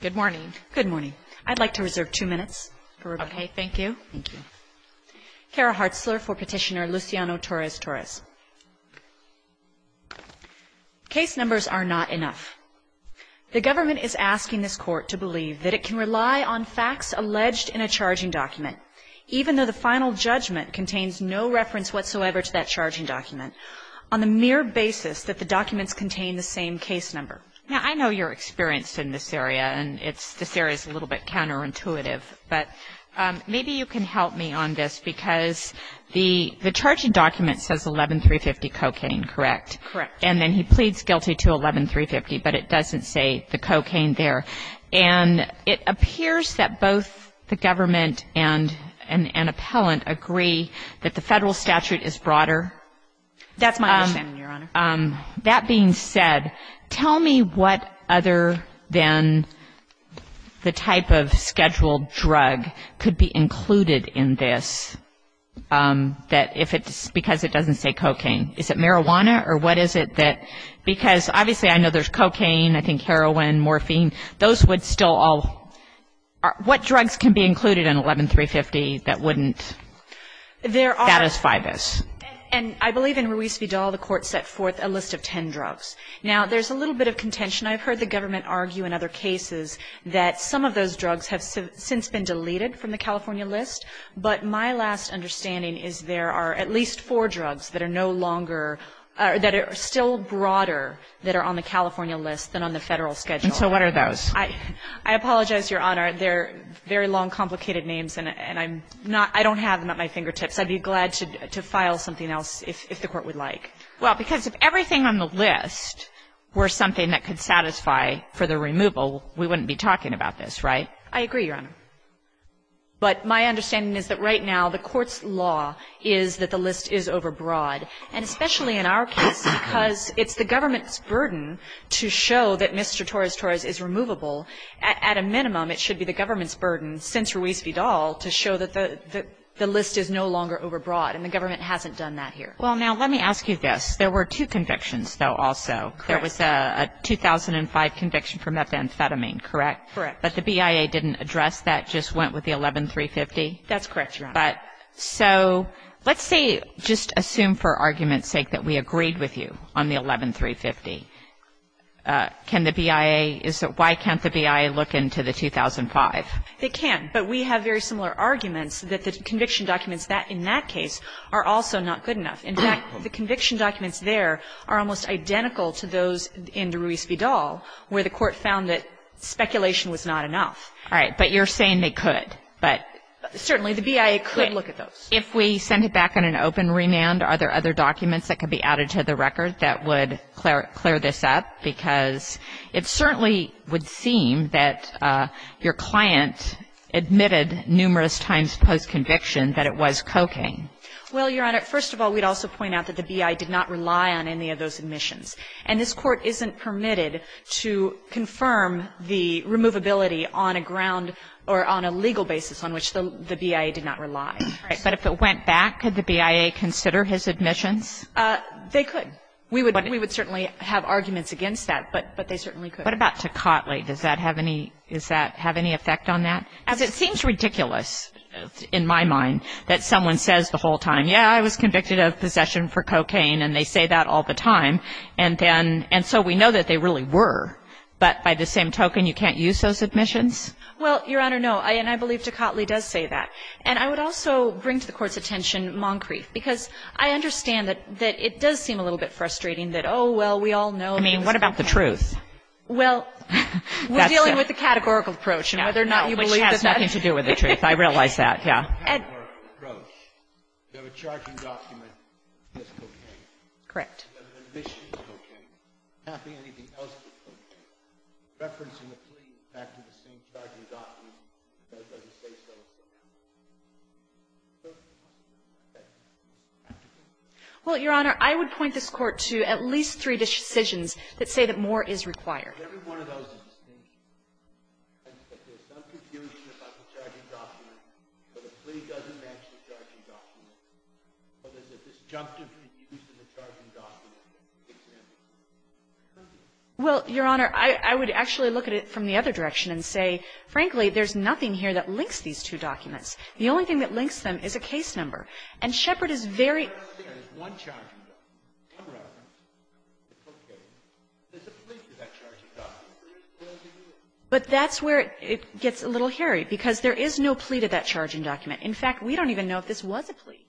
Good morning. Good morning. I'd like to reserve two minutes for rebuttal. Okay, thank you. Thank you. Kara Hartzler for Petitioner Luciano Torres-Torres. Case numbers are not enough. The government is asking this Court to believe that it can rely on facts alleged in a charging document, even though the final judgment contains no reference whatsoever to that charging document, on the mere basis that the documents contain the same case number. Now, I know you're experienced in this area, and this area is a little bit counterintuitive, but maybe you can help me on this, because the charging document says 11350 cocaine, correct? Correct. And then he pleads guilty to 11350, but it doesn't say the cocaine there. And it appears that both the government and an appellant agree that the federal statute is broader. That's my understanding, Your Honor. That being said, tell me what other than the type of scheduled drug could be included in this, that if it's because it doesn't say cocaine. Is it marijuana, or what is it that, because obviously I know there's cocaine, I think heroin, morphine, those would still all, what drugs can be included in 11350 that wouldn't satisfy this? And I believe in Ruiz v. Dahl, the Court set forth a list of ten drugs. Now, there's a little bit of contention. I've heard the government argue in other cases that some of those drugs have since been deleted from the California list. But my last understanding is there are at least four drugs that are no longer, that are still broader that are on the California list than on the federal schedule. And so what are those? I apologize, Your Honor. They're very long, complicated names, and I'm not, I don't have them at my fingertips. I'd be glad to file something else if the Court would like. Well, because if everything on the list were something that could satisfy for the removal, we wouldn't be talking about this, right? I agree, Your Honor. But my understanding is that right now the Court's law is that the list is overbroad, and especially in our case, because it's the government's burden to show that Mr. Torres-Torres is removable. At a minimum, it should be the government's burden, since Ruiz v. Dahl, to show that the list is no longer overbroad, and the government hasn't done that here. Well, now, let me ask you this. There were two convictions, though, also. Correct. There was a 2005 conviction for methamphetamine, correct? Correct. But the BIA didn't address that, just went with the 11-350? That's correct, Your Honor. But so let's say, just assume for argument's sake that we agreed with you on the 11-350. Can the BIA, why can't the BIA look into the 2005? They can, but we have very similar arguments that the conviction documents in that case are also not good enough. In fact, the conviction documents there are almost identical to those in Ruiz v. Dahl, where the Court found that speculation was not enough. All right. But you're saying they could. But certainly the BIA could look at those. If we send it back on an open remand, are there other documents that could be added to the record that would clear this up? Well, Your Honor, I don't think so, because it certainly would seem that your client admitted numerous times post-conviction that it was cocaine. Well, Your Honor, first of all, we'd also point out that the BIA did not rely on any of those admissions. And this Court isn't permitted to confirm the removability on a ground or on a legal basis on which the BIA did not rely. But if it went back, could the BIA consider his admissions? They could. We would certainly have arguments against that, but they certainly could. What about Tocatli? Does that have any effect on that? As it seems ridiculous in my mind that someone says the whole time, yeah, I was convicted of possession for cocaine, and they say that all the time. And so we know that they really were. But by the same token, you can't use those admissions? Well, Your Honor, no. And I believe Tocatli does say that. And I would also bring to the Court's attention Moncrief, because I understand that it does seem a little bit frustrating that, oh, well, we all know. I mean, what about the truth? Well, we're dealing with the categorical approach, and whether or not you believe that that's true. Which has nothing to do with the truth. I realize that, yeah. Well, Your Honor, I would point this Court to at least three decisions that say that more is required. Well, Your Honor, I would actually look at it from the other direction and say, frankly, there's nothing here that links these two documents. The only thing that links them is a case number. And Shepherd is very clear. But that's where it gets a little hairy, because there is no plea to that charging document. In fact, we don't even know if this was a plea.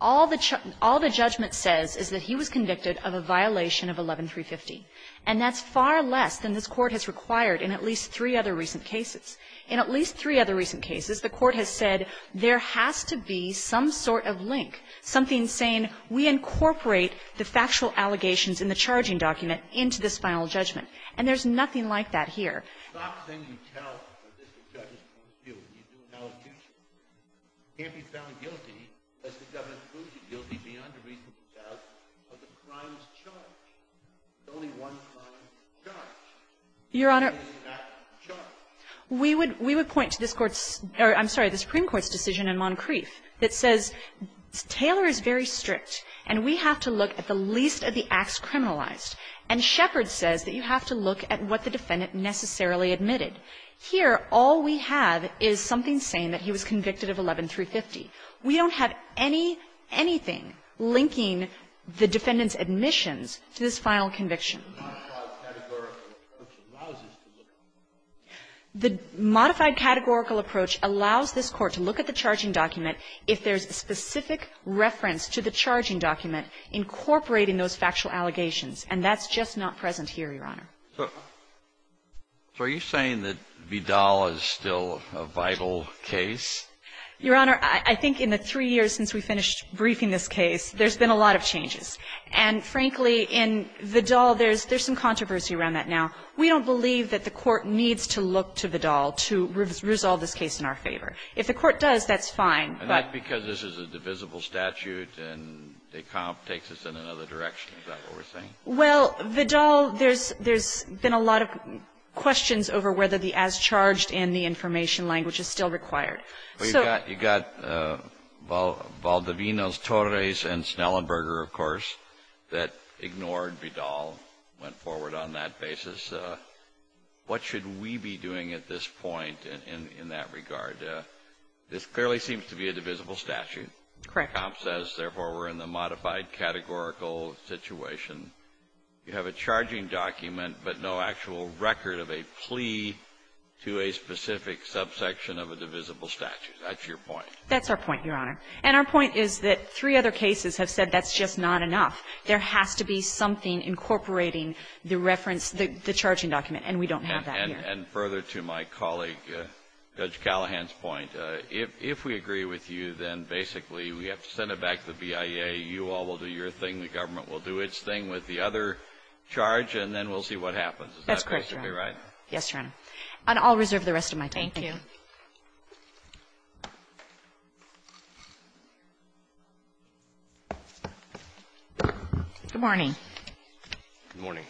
All the judgment says is that he was convicted of a violation of 11-350. And that's far less than this Court has required in at least three other recent cases. In at least three other recent cases, the Court has said there has to be some sort of link, something saying we incorporate the factual allegations in the charging document into this final judgment. And there's nothing like that here. Your Honor, we would point to this Court's or, I'm sorry, the Supreme Court's decision in Moncrief that says Taylor is very strict, and we have to look at the least of the acts criminalized. And Shepherd says that you have to look at what the defendant necessarily admitted. Here, all we have is something saying that he was convicted of 11-350. We don't have anything linking the defendant's admissions to this final conviction. The modified categorical approach allows us to look at it. The modified categorical approach allows this Court to look at the charging document if there's a specific reference to the charging document incorporating those factual allegations. And that's just not present here, Your Honor. So are you saying that Vidal is still a vital case? Your Honor, I think in the three years since we finished briefing this case, there's been a lot of changes. And frankly, in Vidal, there's some controversy around that now. We don't believe that the Court needs to look to Vidal to resolve this case in our favor. If the Court does, that's fine. And that's because this is a divisible statute, and Descamp takes us in another direction. Is that what we're saying? Well, Vidal, there's been a lot of questions over whether the as-charged and the information language is still required. So you've got Valdivinos, Torres, and Snellenberger, of course, that ignored Vidal, went forward on that basis. What should we be doing at this point in that regard? This clearly seems to be a situation where there is a divisible statute. Correct. Descamp says, therefore, we're in the modified categorical situation. You have a charging document but no actual record of a plea to a specific subsection of a divisible statute. That's your point. That's our point, Your Honor. And our point is that three other cases have said that's just not enough. There has to be something incorporating the reference, the charging document, and we don't have that here. And further to my colleague Judge Callahan's point, if we agree with you, then basically we have to send it back to the BIA, you all will do your thing, the government will do its thing with the other charge, and then we'll see what happens. Is that basically right? That's correct, Your Honor. Yes, Your Honor. And I'll reserve the rest of my time. Thank you. Good morning. Good morning.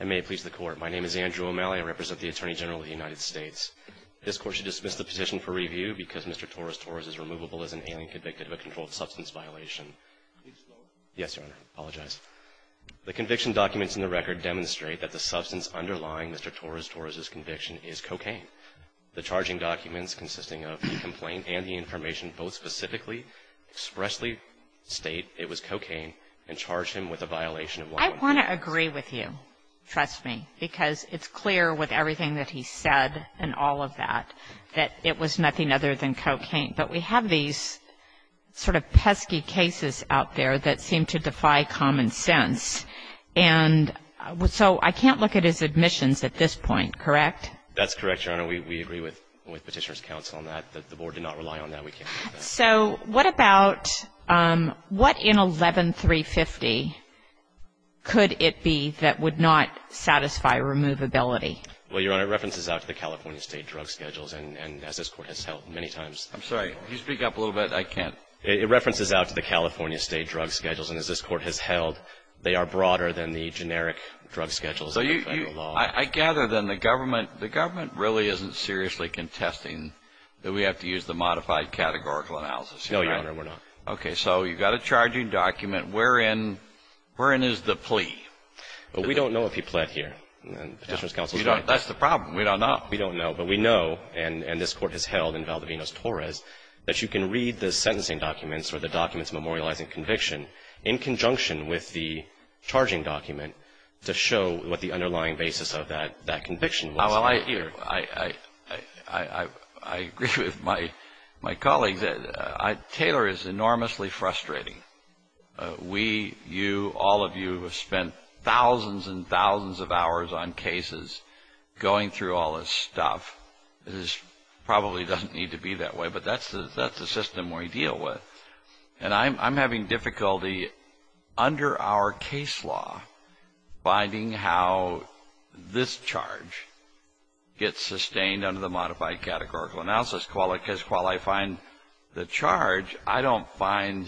And may it please the Court, my name is Andrew O'Malley. I represent the Attorney General of the United States. This Court should dismiss the petition for review because Mr. Torres-Torres is removable as an alien convicted of a controlled substance violation. Yes, Your Honor. I apologize. The conviction documents in the record demonstrate that the substance underlying Mr. Torres-Torres' conviction is cocaine. The charging documents consisting of the complaint and the information both specifically expressly state it was cocaine and charge him with a violation of 111. I want to agree with you, trust me, because it's clear with everything that he said and all of that, that it was nothing other than cocaine. But we have these sort of pesky cases out there that seem to defy common sense. And so I can't look at his admissions at this point, correct? That's correct, Your Honor. We agree with Petitioner's Counsel on that. The Board So what about, what in 11350 could it be that would not satisfy removability? Well, Your Honor, it references out to the California State Drug Schedules. And as this Court has held many times I'm sorry. Can you speak up a little bit? I can't. It references out to the California State Drug Schedules. And as this Court has held, they are broader than the generic drug schedules in the federal law. I gather then the government really isn't seriously contesting that we have to use the modified categorical analysis, right? No, Your Honor, we're not. Okay. So you've got a charging document. Wherein is the plea? Well, we don't know if he pled here. And Petitioner's Counsel's right. That's the problem. We don't know. We don't know. But we know, and this Court has held in Valdivinos-Torres, that you can read the sentencing documents or the documents memorializing conviction in conjunction with the charging document to show what the underlying basis of that conviction was. Well, I agree with my colleagues. Taylor is enormously frustrating. We, you, all of you have spent thousands and thousands of hours on cases, going through all this stuff. This probably doesn't need to be that way, but that's the system we deal with. And I'm having difficulty under our case law finding how this charge gets sustained under the modified categorical analysis. Because while I find the charge, I don't find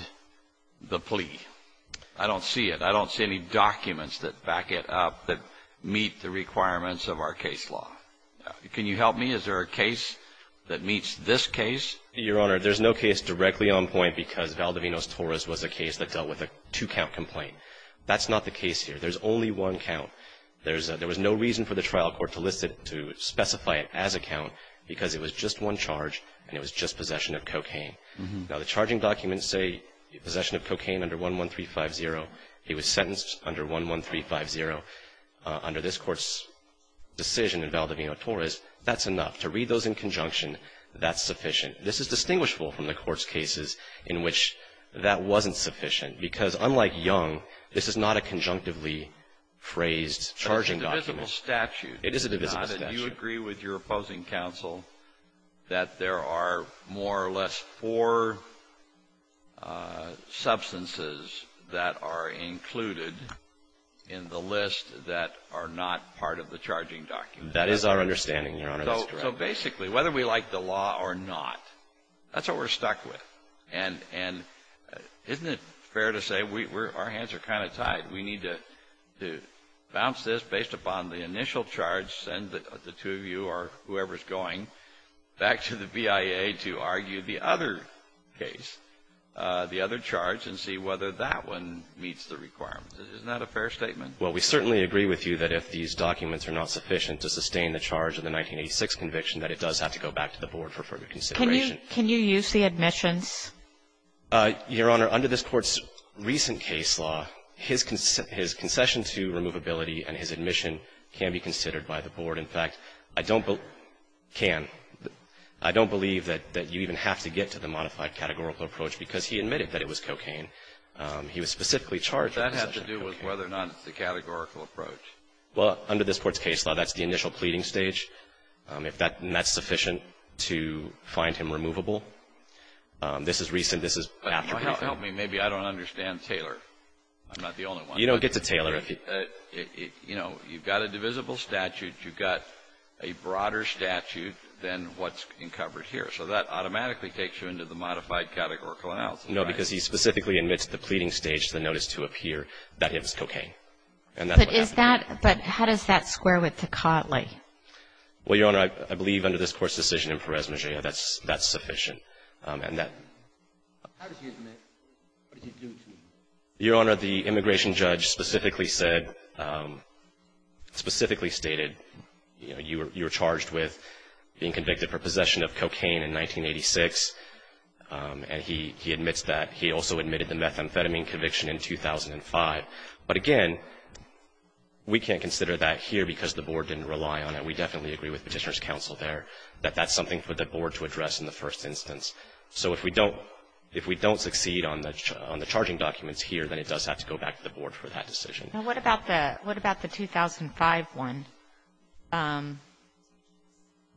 the plea. I don't see it. I don't see any documents that back it up that meet the requirements of our case law. Can you help me? Is there a case that meets this case? Your Honor, there's no case directly on point because Valdivinos-Torres was a case that dealt with a two-count complaint. That's not the case here. There's only one count. There was no reason for the trial court to specify it as a count because it was just one charge and it was just possession of cocaine. Now, the charging documents say possession of cocaine under 11350. He was sentenced under 11350. Under this Court's decision in Valdivinos-Torres, that's enough. To read those in conjunction, that's sufficient. This is distinguishable from the Court's cases in which that wasn't sufficient because, unlike Young, this is not a conjunctively phrased charging document. It is a divisible statute. It is a divisible statute. It's not that you agree with your opposing counsel that there are more or less four substances that are included in the list that are not part of the charging document. That is our understanding, Your Honor. That's correct. So basically, whether we like the law or not, that's what we're stuck with. And isn't it fair to say our hands are kind of tied? We need to bounce this based upon the initial charge, send the two of you or whoever's going back to the BIA to argue the other case, the other charge, and see whether that one meets the requirements. Isn't that a fair statement? Well, we certainly agree with you that if these documents are not sufficient to prove a conviction, that it does have to go back to the Board for further consideration. Can you use the admissions? Your Honor, under this Court's recent case law, his concession to removability and his admission can be considered by the Board. In fact, I don't believe you can. I don't believe that you even have to get to the modified categorical approach because he admitted that it was cocaine. He was specifically charged with possession of cocaine. But that has to do with whether or not it's a categorical approach. Well, under this Court's case law, that's the initial pleading stage. If that's sufficient to find him removable. This is recent. This is after. But help me. Maybe I don't understand Taylor. I'm not the only one. You don't get to Taylor. You know, you've got a divisible statute. You've got a broader statute than what's covered here. So that automatically takes you into the modified categorical analysis, right? No, because he specifically admits at the pleading stage to the notice to appear that it was cocaine. And that's what happened. But how does that square with Tocatli? Well, Your Honor, I believe under this Court's decision in Perez-Megello, that's sufficient. And that ---- How did he admit? What did he do to you? Your Honor, the immigration judge specifically said, specifically stated, you know, you were charged with being convicted for possession of cocaine in 1986. And he admits that. He also admitted the methamphetamine conviction in 2005. But again, we can't consider that here because the Board didn't rely on it. We definitely agree with Petitioner's counsel there that that's something for the Board to address in the first instance. So if we don't ---- if we don't succeed on the charging documents here, then it does have to go back to the Board for that decision. Well, what about the 2005 one?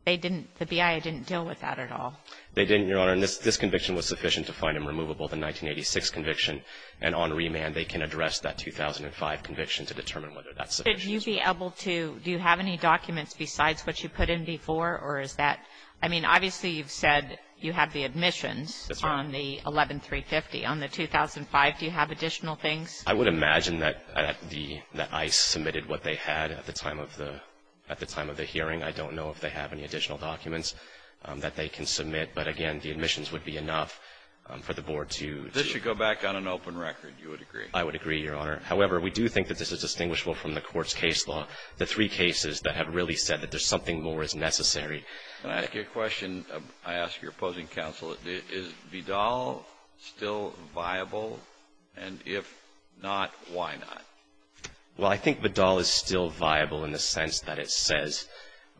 They didn't ---- the BIA didn't deal with that at all. They didn't, Your Honor. And this conviction was sufficient to find him removable, the 1986 conviction. And on remand, they can address that 2005 conviction to determine whether that's sufficient. Could you be able to ---- do you have any documents besides what you put in before? Or is that ---- I mean, obviously you've said you have the admissions on the 11350. On the 2005, do you have additional things? I would imagine that the ---- that ICE submitted what they had at the time of the hearing. I don't know if they have any additional documents that they can submit. But again, the admissions would be enough for the Board to ---- If this should go back on an open record, you would agree? I would agree, Your Honor. However, we do think that this is distinguishable from the Court's case law, the three cases that have really said that there's something more is necessary. Can I ask you a question? I ask your opposing counsel. Is Vidal still viable? And if not, why not? Well, I think Vidal is still viable in the sense that it says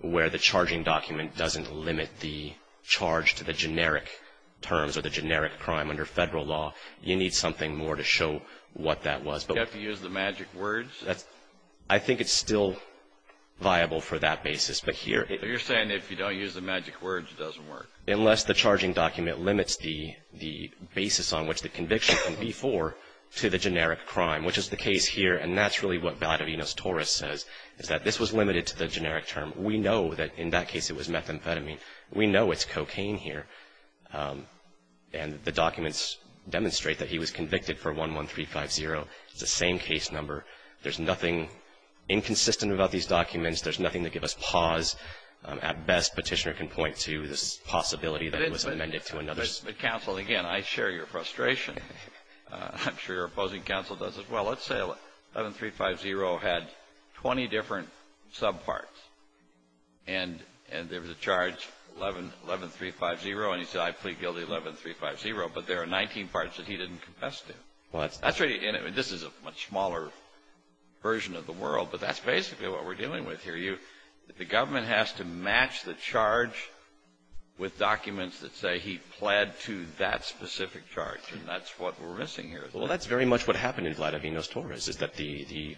where the charging document doesn't limit the charge to the generic terms or the generic crime under federal law, you need something more to show what that was. Do you have to use the magic words? That's ---- I think it's still viable for that basis. But here ---- But you're saying if you don't use the magic words, it doesn't work? Unless the charging document limits the basis on which the conviction can be for to the generic crime, which is the case here. And that's really what Vidalino's Taurus says, is that this was limited to the generic term. We know that in that case it was methamphetamine. We know it's cocaine here. And the documents demonstrate that he was convicted for 11350. It's the same case number. There's nothing inconsistent about these documents. There's nothing to give us pause. At best, Petitioner can point to this possibility that it was amended to another ---- But counsel, again, I share your frustration. I'm sure your opposing counsel does as well. Let's say 11350 had 20 different subparts. And there was a charge, 11350, and he said, I plead guilty 11350. But there are 19 parts that he didn't confess to. Well, that's ---- And this is a much smaller version of the world. But that's basically what we're dealing with here. The government has to match the charge with documents that say he pled to that specific charge. And that's what we're missing here. Well, that's very much what happened in Vidalino's Taurus, is that the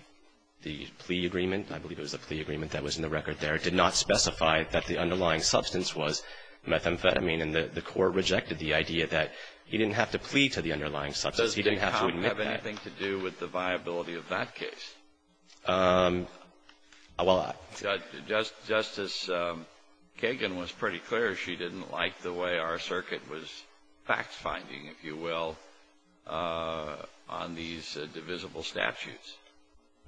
plea agreement, I believe it was a plea agreement that was in the record there, did not specify that the underlying substance was methamphetamine. And the court rejected the idea that he didn't have to plead to the underlying substance. He didn't have to admit that. Does the comp have anything to do with the viability of that case? Well, I ---- Justice Kagan was pretty clear she didn't like the way our circuit was fact-finding, if you will, on these divisible statutes.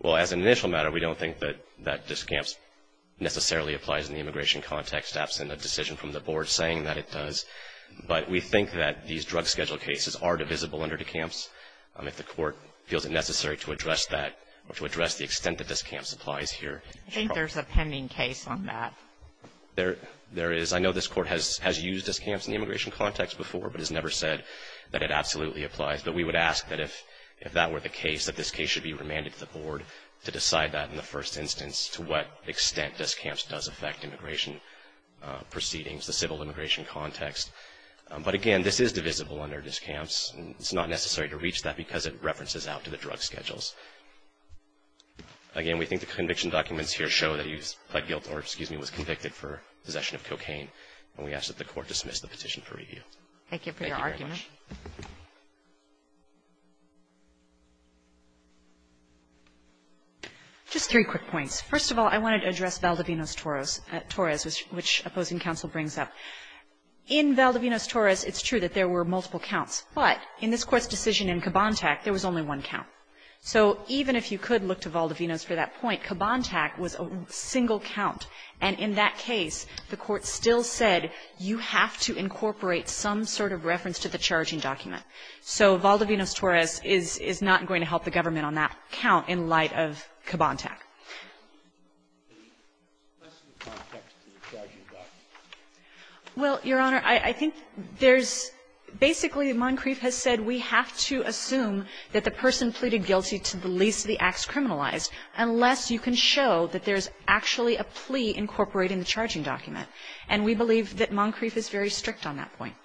Well, as an initial matter, we don't think that this camps necessarily applies in the immigration context, absent a decision from the board saying that it does. But we think that these drug schedule cases are divisible under the camps. If the court feels it necessary to address that or to address the extent that this camps applies here. I think there's a pending case on that. There is. I know this Court has used this camps in the immigration context before, but has never said that it absolutely applies. But we would ask that if that were the case, that this case should be remanded to the board to decide that in the first instance to what extent this camps does affect immigration proceedings, the civil immigration context. But again, this is divisible under this camps. It's not necessary to reach that because it references out to the drug schedules. Again, we think the conviction documents here show that he's pled guilt or, excuse me, was convicted for possession of cocaine. And we ask that the court dismiss the petition for review. Thank you very much. Just three quick points. First of all, I wanted to address Valdivinos-Torres, which opposing counsel brings up. In Valdivinos-Torres, it's true that there were multiple counts. But in this Court's decision in Kabontak, there was only one count. So even if you could look to Valdivinos for that point, Kabontak was a single count. And in that case, the Court still said you have to incorporate some sort of reference to the charging document. So Valdivinos-Torres is not going to help the government on that count in light of Kabontak. Well, Your Honor, I think there's basically, Moncrief has said we have to assume that the person pleaded guilty to the least of the acts criminalized unless you can show that there's actually a plea incorporating the charging document. And we believe that Moncrief is very strict on that point.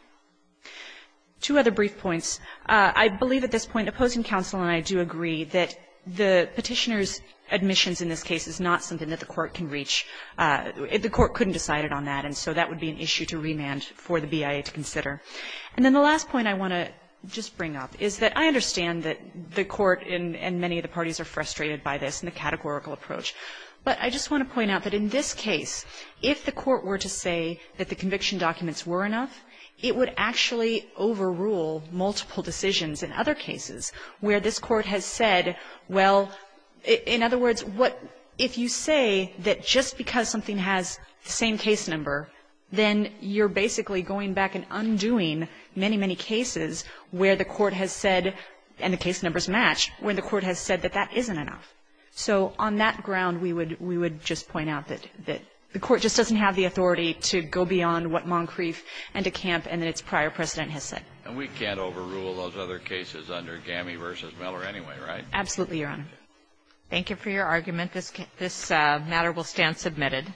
Two other brief points. I believe at this point, opposing counsel and I do agree, that the Petitioner's admissions in this case is not something that the Court can reach. The Court couldn't decide it on that. And so that would be an issue to remand for the BIA to consider. And then the last point I want to just bring up is that I understand that the Court and many of the parties are frustrated by this and the categorical approach. But I just want to point out that in this case, if the Court were to say that the conviction documents were enough, it would actually overrule multiple decisions in other cases where this Court has said, well, in other words, what if you say that just because something has the same case number, then you're basically going back and undoing many, many cases where the Court has said, and the case numbers match, when the Court has said that that isn't enough. So on that ground, we would just point out that the Court just doesn't have the authority to go beyond what Moncrief and DeCamp and its prior precedent has said. And we can't overrule those other cases under Gammey v. Miller anyway, right? Absolutely, Your Honor. Thank you for your argument. This matter will stand submitted.